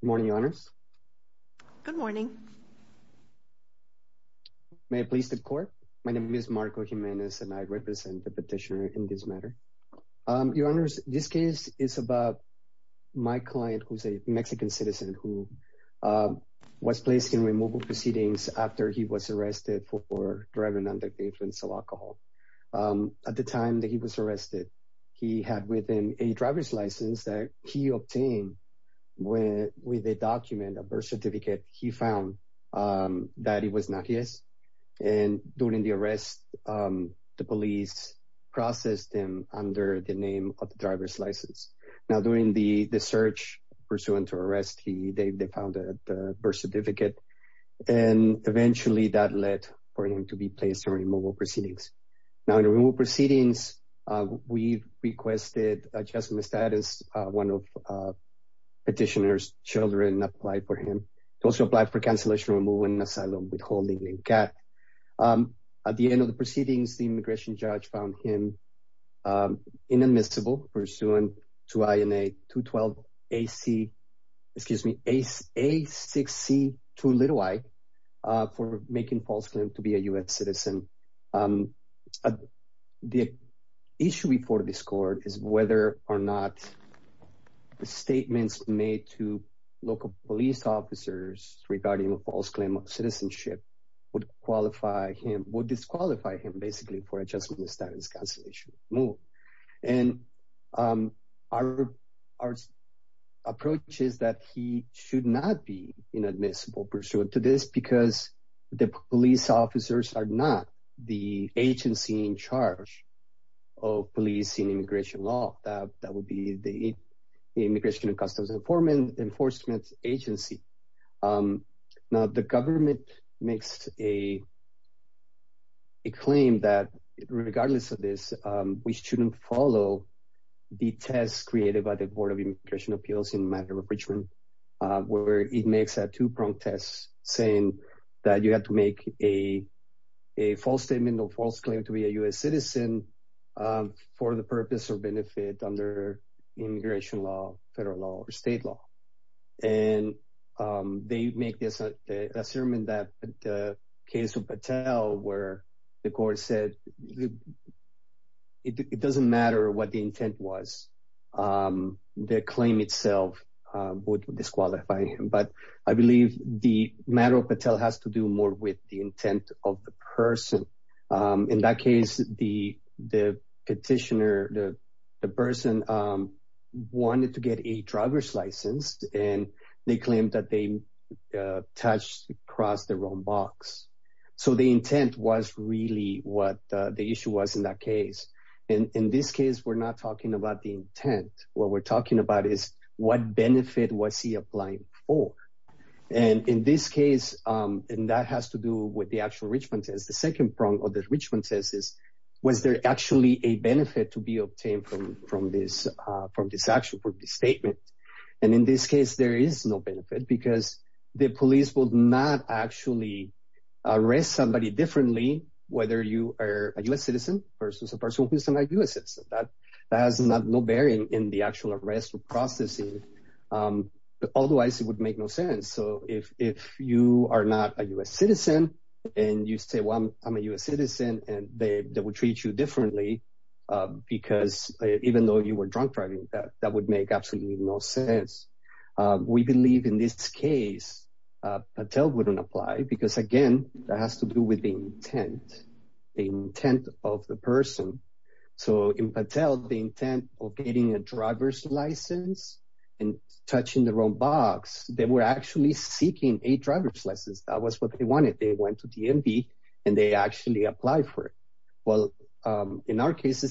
Good morning, your honors. Good morning. May I please the court. My name is Marco Jimenez and I represent the petitioner in this matter. Your honors, this case is about my client who's a Mexican citizen who was placed in removal proceedings after he was arrested for driving under influence of alcohol. At the time that he was arrested, he had with him a driver's license that he obtained with a document, a birth certificate. He found that it was not his. And during the arrest, the police processed him under the name of the driver's license. Now during the search pursuant to arrest, they found the birth certificate. And eventually that led for him to be placed in removal proceedings. Now in removal proceedings, we requested adjustment status. One of petitioner's children applied for him to also apply for cancellation of removal and asylum withholding in CAT. At the end of the proceedings, the immigration judge found him inadmissible pursuant to INA 212 AC, excuse me, A6C2i for making false claim to be a US citizen. The issue before this court is whether or not the statements made to local police officers regarding a false claim of citizenship would qualify him, would disqualify him basically for adjustment status cancellation of removal. And our approach is that he should not be inadmissible pursuant to this because the police officers are not the agency in charge of policing immigration law. That would be the Immigration and Customs Enforcement Agency. Now the government makes a claim that regardless of this, we shouldn't follow the test created by the Board of Immigration Appeals in the matter of apprehension where it makes a two-pronged test saying that you have to make a false statement or false claim to be a US citizen for the purpose or benefit under immigration law, federal law, or state law. And they make this assurement that the case of Patel where the court said it doesn't matter what the intent was, the claim itself would disqualify him. But I believe the matter of Patel has to do more with the intent of the person. In that case, the petitioner, the person wanted to get a driver's license and they claim that they touched across the wrong box. So the intent was really what the issue was in that case. In this case, we're not talking about the intent. What we're talking about is what benefit was he applying for. And in this case, and that has to do with the actual Richmond test. The second prong of the Richmond test is, was there actually a benefit to be obtained from this statement? And in this case, there is no benefit because the police will not actually arrest somebody differently whether you are a US citizen versus a person who's a US citizen. That has no bearing in the actual arrest or processing. Otherwise, it would make no sense. So if you are not a US citizen, and you say, well, I'm a US citizen, and they will treat you differently. Because even though you were drunk driving, that would make absolutely no sense. We believe in this case, Patel wouldn't apply because again, that has to do with the intent of the person. So in Patel, the intent of getting a driver's license and touching the wrong box, they were actually seeking a driver's license. That was what they wanted. They went to DMV, and they actually applied for it. Well, in our case,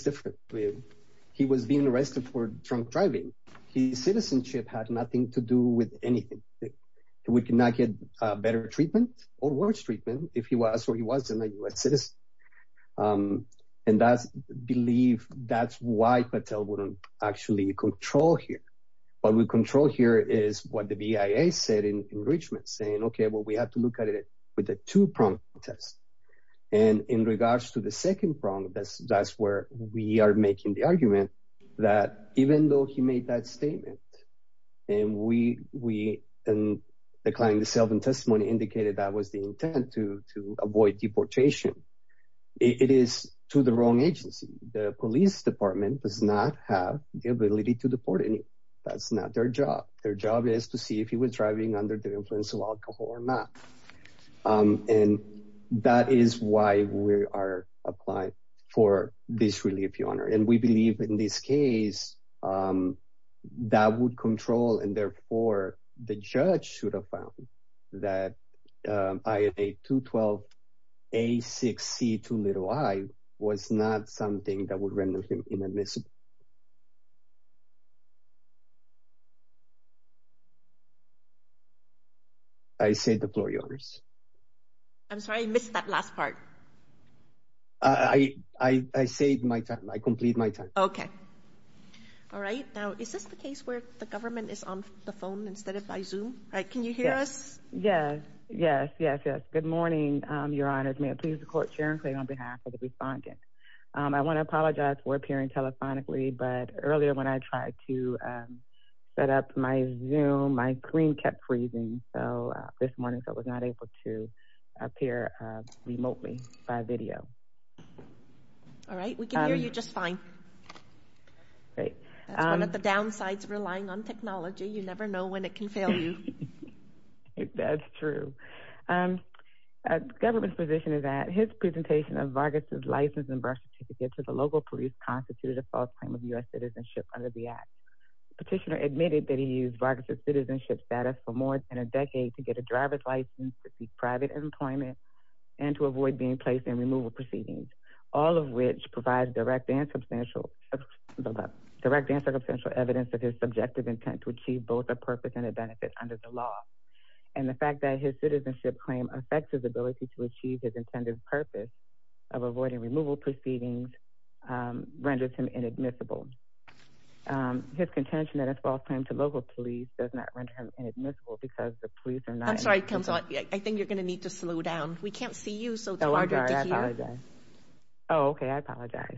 he was being arrested for drunk driving. His citizenship had nothing to do with anything. We cannot get better treatment or worse treatment if he was or he wasn't a US citizen. And that's why Patel wouldn't actually control here. What we control here is what the BIA said in Richmond saying, okay, well, we have to look at it with a two-pronged test. And in regards to the second prong, that's where we are making the argument that even though he made that statement, and we declined the self and testimony indicated that was the intent to avoid deportation. It is to the wrong agency. The police department does not have the ability to deport any. That's not their job. Their job is to see if he was driving under the influence of alcohol or not. And that is why we are applying for this relief, Your Honor. And we believe in this case, that would control. And therefore, the judge should have found that IA-212-A6C2i was not something that would render him inadmissible. I say the floor, Your Honor. I'm sorry, I missed that last part. I saved my time. I complete my time. Okay. All right. Now, is this the case where the government is on the phone instead of by Zoom? Can you hear us? Yes, yes, yes, yes. Good morning, Your Honor. May it please the Court, Sharon Clay on behalf of the respondent. I want to apologize for appearing telephonically, but earlier when I tried to set up my Zoom, my screen kept freezing. So this morning, I was not able to appear remotely by video. All right. We can hear you just fine. Great. That's one of the downsides of relying on technology. You never know when it can fail you. That's true. The government's position is that his presentation of Vargas' license and birth certificate to the local police constituted a false claim of U.S. citizenship under the Act. Petitioner admitted that he used Vargas' citizenship status for more than a decade to get a driver's license, to seek private employment, and to avoid being placed in removal proceedings, all of which provides direct and substantial evidence of his subjective intent to achieve both a purpose and a benefit under the law. And the fact that his citizenship claim affects his ability to achieve his intended purpose of avoiding removal proceedings renders him inadmissible. His contention that it's a false claim to local police does not render him inadmissible because the police are not... I'm sorry, Councilor. I think you're going to need to slow down. We can't see you, so it's harder to hear. Oh, I'm sorry. I apologize. Oh, okay. I apologize.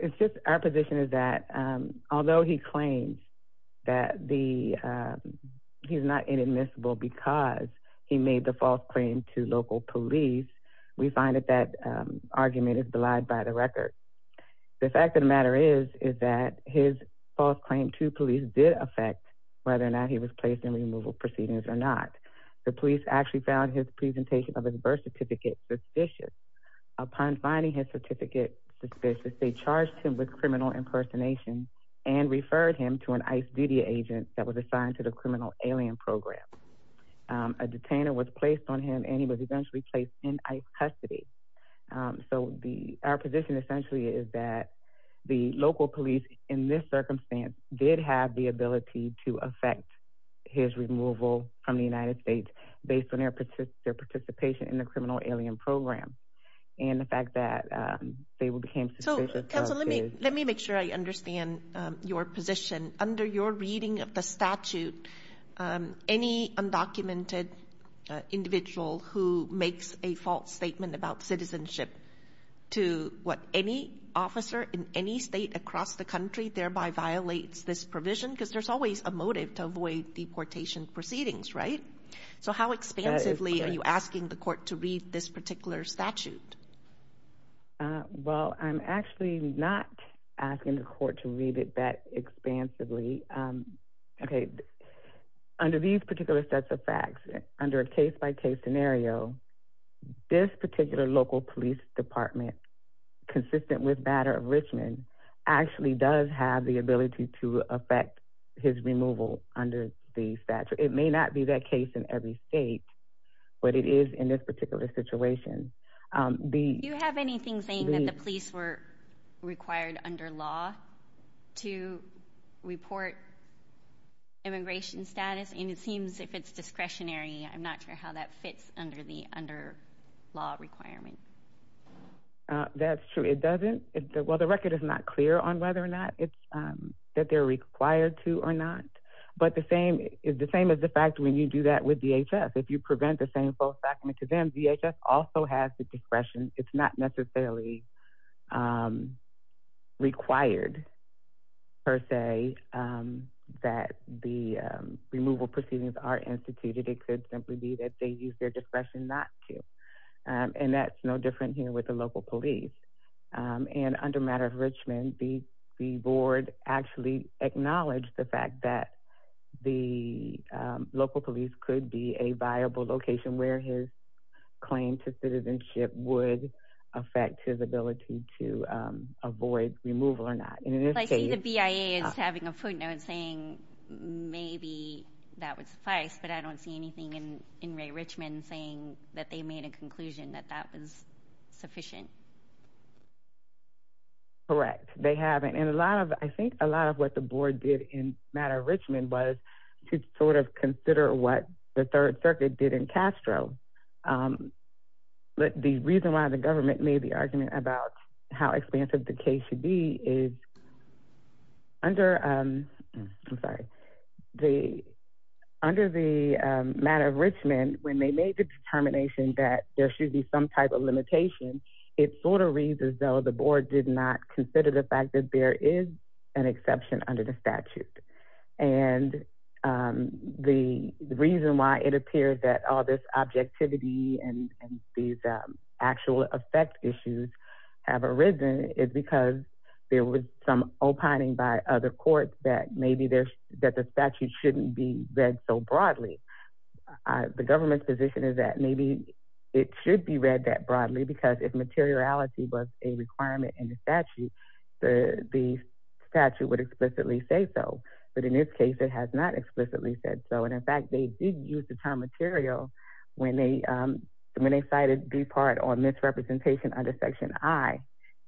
It's just our position is that although he claims that he's not inadmissible because he made the false claim to local police, we find that that argument is belied by the record. The fact of the matter is that his false claim to police did affect whether or not he was placed in removal proceedings or not. The police actually found his presentation of his birth certificate suspicious. Upon finding his certificate suspicious, they charged him with criminal impersonation and referred him to an ICE duty agent that was assigned to the criminal alien program. A detainer was placed on him, and he was eventually placed in ICE custody. So our position essentially is that the local police in this circumstance did have the ability to affect his removal from the United States based on their participation in the criminal alien program. The fact that they became suspicious... So, Councilor, let me make sure I understand your position. Under your reading of the statute, any undocumented individual who makes a false statement about citizenship to any officer in any state across the country thereby violates this provision, because there's always a motive to avoid deportation proceedings, right? So how expansively are you asking the court to read this particular statute? Well, I'm actually not asking the court to read it that expansively. Okay. Under these particular sets of facts, under a case-by-case scenario, this particular local police department, consistent with the matter of Richmond, actually does have the ability to affect his removal under the statute. It may not be that case in every state, but it is in this particular situation. Do you have anything saying that the police were required under law to report immigration status? And it seems if it's discretionary, I'm not sure how that fits under the law requirement. That's true. It doesn't. Well, the record is not clear on whether or not that they're required to or not. But the same is the fact when you do that with DHS. If you prevent the same false document to them, DHS also has the discretion. It's not necessarily required, per se, that the removal proceedings are instituted. It could simply be that they use their discretion not to. And that's no different here with the local police. And under matter of Richmond, the board actually acknowledged the fact that the local police could be a viable location where his claim to citizenship would affect his ability to avoid removal or not. I see the BIA is having a footnote saying maybe that would suffice, but I don't see anything in Ray Richmond saying that they made a conclusion that that was sufficient. Correct. They haven't. And I think a lot of what the board did in matter of Richmond was to sort of consider what the Third Circuit did in Castro. But the reason why the government made the argument about how expansive the case should be is under the matter of Richmond, when they made the determination that there should be some type of limitation, it sort of reads as though the board did not consider the fact that there is an exception under the statute. And the reason why it appears that all this objectivity and these actual effect issues have arisen is because there was some opining by other courts that maybe that the statute shouldn't be read so broadly. The government's position is that maybe it should be read that broadly because if materiality was a requirement in the statute, the statute would explicitly say so. But in this case, it has not explicitly said so. And in fact, they did use the term material when they cited the part on misrepresentation under section I,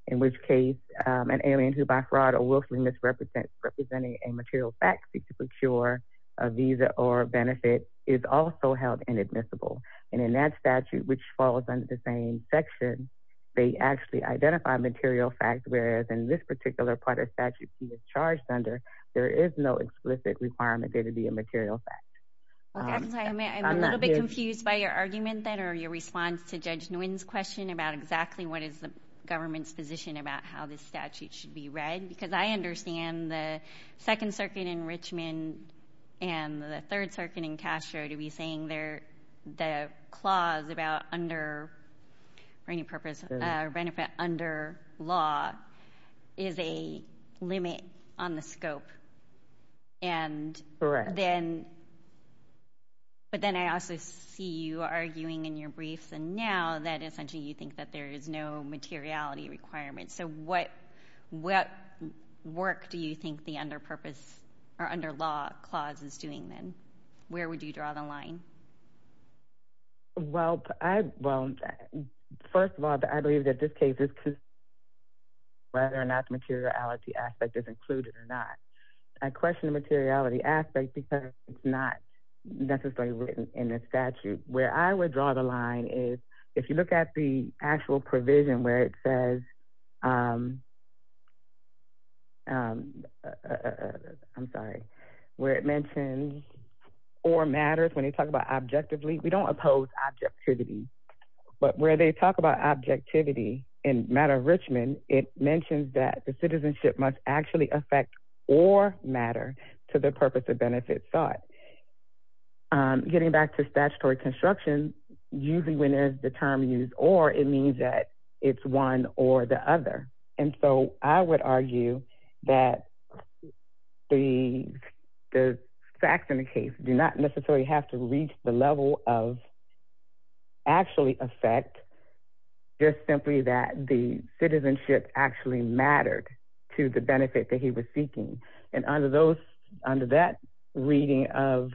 in which case an alien who by fraud or willfully misrepresents representing a material fact seek to procure a visa or benefit is also held inadmissible. And in that statute, which falls under the same section, they actually identify material fact, whereas in this particular part of statute, he was charged under, there is no explicit requirement there to be a material fact. I'm a little bit confused by your argument that or your response to Judge Nguyen's question about exactly what is the government's position about how this statute should be read, because I understand the Second Circuit in Richmond and the Third Circuit in Castro to be saying they're clause about under any purpose or benefit under law is a limit on the scope. And then, but then I also see you arguing in your briefs and now that essentially you think that there is no materiality requirement. So what work do you think the under purpose or under law clause is doing then? Where would you draw the line? Well, first of all, I believe that this case is whether or not the materiality aspect is included or not. I question the materiality aspect because it's not necessarily written in the statute. Where I would draw the line is if you look at the actual provision where it says, I'm sorry, where it mentions or matters when they talk about objectively, we don't oppose objectivity, but where they talk about objectivity in matter of Richmond, it mentions that the citizenship must actually affect or matter to the purpose of benefit sought. Getting back to statutory construction, usually when there's the term used or it means that it's one or the other. And so I would argue that the facts in the case do not necessarily have to reach the level of actually affect just simply that the citizenship actually mattered to the benefit that he was seeking. And under that reading of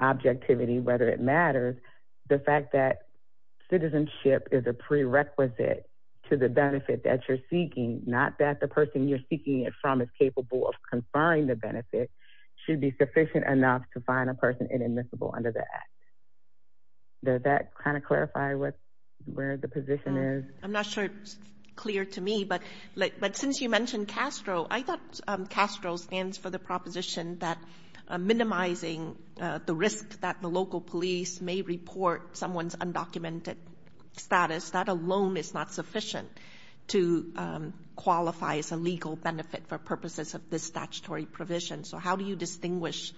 objectivity, whether it matters, the fact that citizenship is a prerequisite to the benefit that you're seeking, not that the person you're seeking it from is capable of conferring the benefit should be sufficient enough to find a person inadmissible under that. Does that clarify where the position is? I'm not sure it's clear to me, but since you mentioned Castro, I thought Castro stands for proposition that minimizing the risk that the local police may report someone's undocumented status, that alone is not sufficient to qualify as a legal benefit for purposes of this statutory provision. So how do you distinguish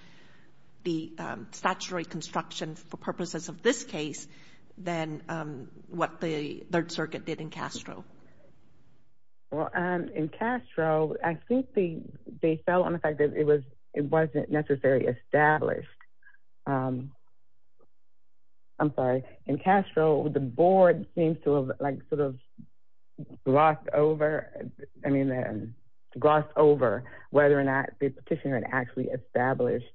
the statutory construction for purposes of this case, than what the Third Circuit did in Castro? Well, in Castro, I think they fell on the it wasn't necessarily established. I'm sorry, in Castro, the board seems to have like sort of glossed over, I mean, glossed over whether or not the petitioner had actually established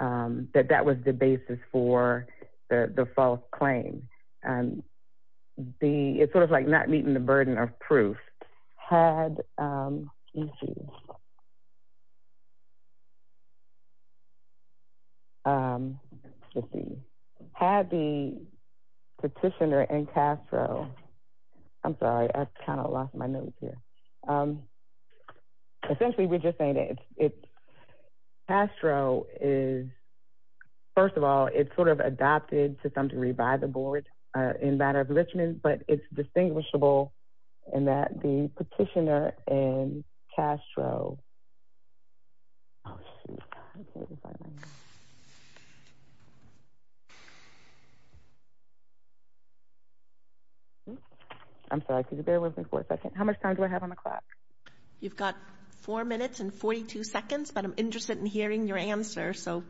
that that was the basis for the false claim. And the it's sort of like not meeting the burden of Had the petitioner in Castro, I'm sorry, I kind of lost my notes here. Essentially, we're just saying it's Castro is, first of all, it's sort of adopted to some degree by the board in matter of Richmond, but it's distinguishable in that the petitioner in Castro. I'm sorry, could you bear with me for a second? How much time do I have on the clock? You've got four minutes and 42 seconds, but I'm interested in hearing your answer. So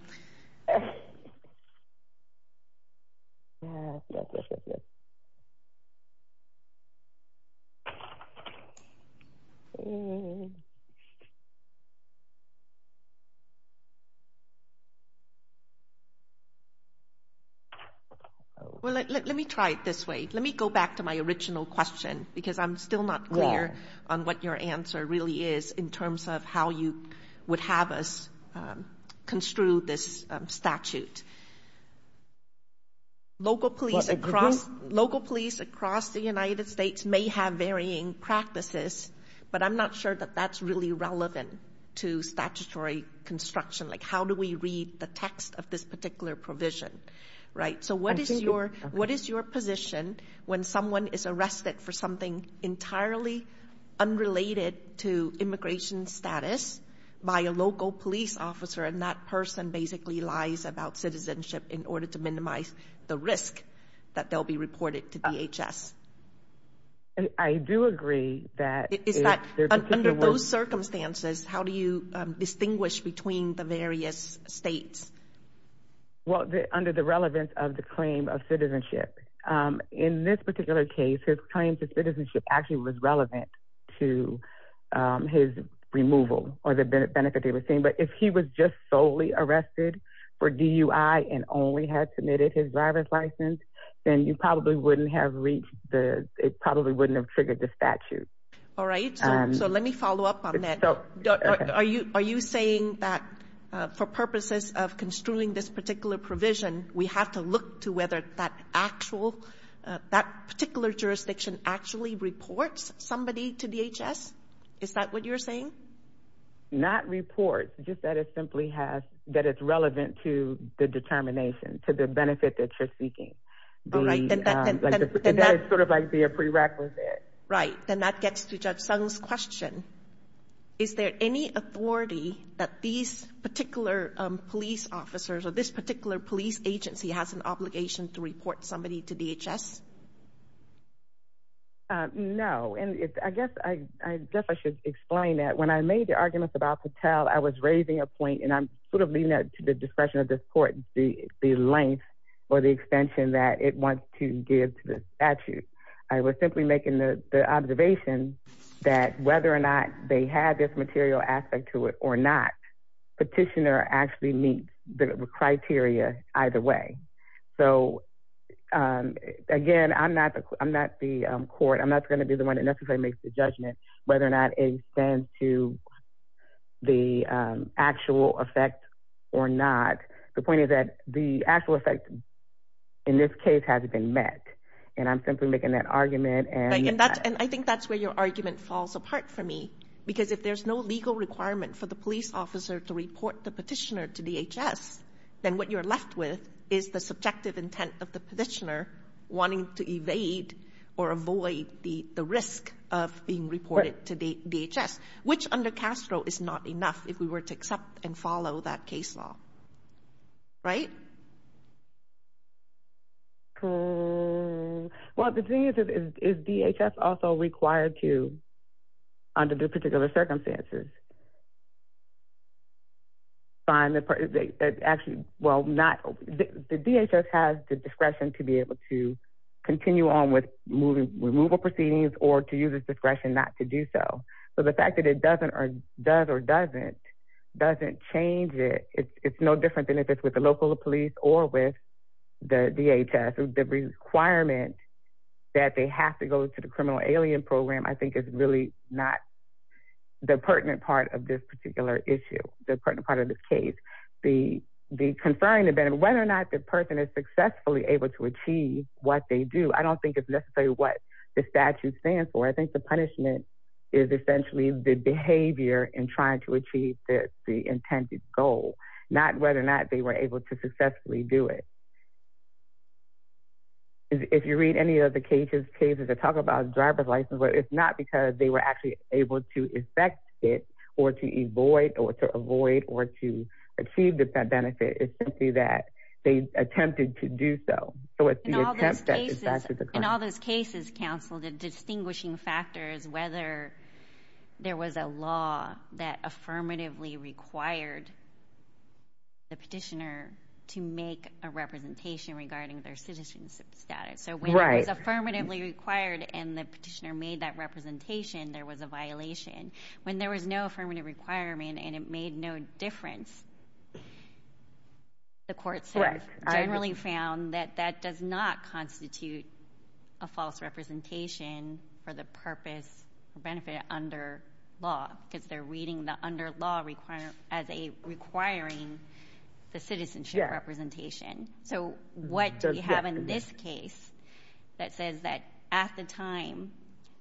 let me try it this way. Let me go back to my original question, because I'm still not clear on what your answer really is in terms of how you would have us construe this statute. Local police across the United States may have varying practices, but I'm not sure that that's really relevant to statutory construction, like how do we read the text of this particular provision, right? So what is your position when someone is arrested for something entirely unrelated to immigration status by a local police officer and that person basically lies about citizenship in order to minimize the risk that they'll be reported to DHS? I do agree that... Is that under those circumstances, how do you distinguish between the various states? Well, under the relevance of the claim of citizenship. In this particular case, his claims of citizenship actually was relevant to his removal or the benefit they were seeing, but if he was just solely arrested for DUI and only had submitted his driver's license, then you probably wouldn't have reached the... It probably wouldn't have triggered the statute. All right. So let me follow up on that. Are you saying that for purposes of construing this particular provision, we have to look to whether that particular jurisdiction actually reports somebody to DHS? Is that what you're saying? Not reports, just that it simply has... That it's relevant to the determination, to the benefit that you're seeking. That is sort of like the prerequisite. Right. Then that gets to Judge Sung's question. Is there any authority that these particular police officers or this particular police agency has an obligation to report somebody to DHS? No. I guess I should explain that. When I made the arguments about Patel, I was raising a point, and I'm sort of leaving that to the discretion of this court, the length or the extension that it wants to give to the statute. I was simply making the observation that whether or not they had this material aspect to it or not, Petitioner actually meets the criteria either way. So again, I'm not the court. I'm not going to be the one that necessarily makes the judgment whether or not it extends to the actual effect or not. The point is that the actual effect in this case hasn't been met, and I'm simply making that argument. And I think that's where your argument falls apart for me, because if there's no legal requirement for the police officer to report the petitioner to DHS, then what you're left with is the subjective intent of the petitioner wanting to evade or avoid the risk of being reported to DHS, which under Castro is not enough if we were to accept and follow that case law, right? Well, the thing is, is DHS also required to, under the particular circumstances, find the, actually, well, not, the DHS has the discretion to be able to continue on with moving removal proceedings or to use its discretion not to do so. So the fact that it doesn't, or does or doesn't, doesn't change it, it's no different than if it's with the local police or with the DHS. The requirement that they have to go to the criminal alien program, I think, is really not the pertinent part of this particular issue, the pertinent part of this case. The conferring event, whether or not the person is successfully able to achieve what they do, I don't think it's necessarily what the statute stands for. I think the punishment is essentially the behavior in trying to achieve the intended goal, not whether or not they were able to successfully do it. If you read any of the cases that talk about driver's license, but it's not because they were actually able to effect it, or to avoid, or to avoid, or to achieve that benefit. It's simply that they attempted to do so. So it's the attempt that In all those cases, counsel, the distinguishing factor is whether there was a law that affirmatively required the petitioner to make a representation regarding their citizenship status. When it was affirmatively required and the petitioner made that representation, there was a violation. When there was no affirmative requirement and it made no difference, the courts generally found that that does not constitute a false representation for the purpose or benefit under law, because they're reading the under law as requiring the citizenship representation. So what do we have in this case that says that at the time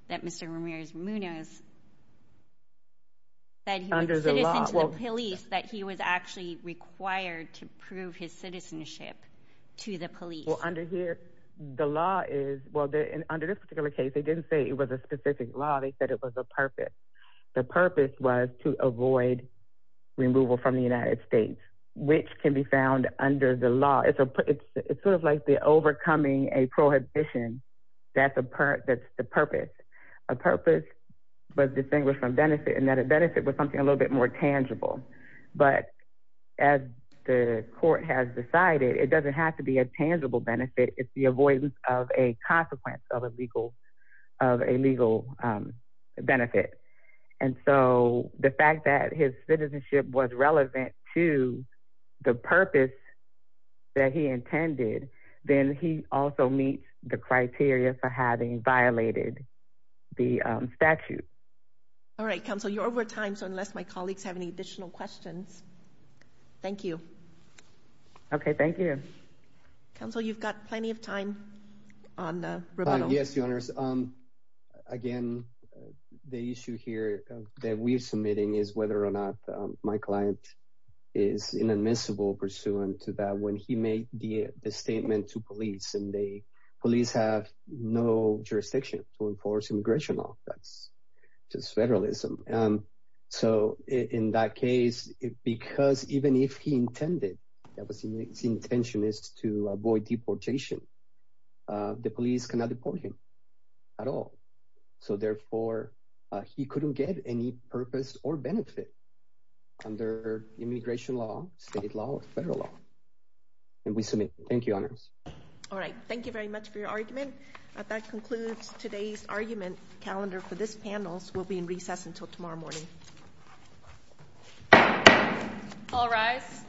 that Mr. Ramirez-Munoz said he was a citizen to the police, that he was actually required to prove his citizenship to the police? Well, under here, the law is, well, under this particular case, they didn't say it was a specific law. They said it was a purpose. The purpose was to avoid removal from the United States, which can be found under the law. It's sort of like the overcoming a prohibition. That's the purpose. A purpose was distinguished from benefit and that a benefit was something a little bit more tangible. But as the court has decided, it doesn't have to be a tangible benefit. It's the avoidance of a consequence of a legal benefit. And so the fact that his citizenship was relevant to the purpose that he intended, then he also meets the criteria for having violated the statute. All right, counsel, you're over time. So unless my colleagues have any additional questions. Thank you. Okay, thank you. Counsel, you've got plenty of time on the rebuttal. Yes, the issue here that we're submitting is whether or not my client is inadmissible pursuant to that when he made the statement to police and the police have no jurisdiction to enforce immigration law. That's just federalism. So in that case, because even if he intended, that was his intention is to avoid deportation. The police cannot deport him at all. So therefore, he couldn't get any purpose or benefit under immigration law, state law, or federal law. And we submit. Thank you, honors. All right. Thank you very much for your argument. That concludes today's argument calendar for this panel. We'll be in recess until tomorrow morning. All rise.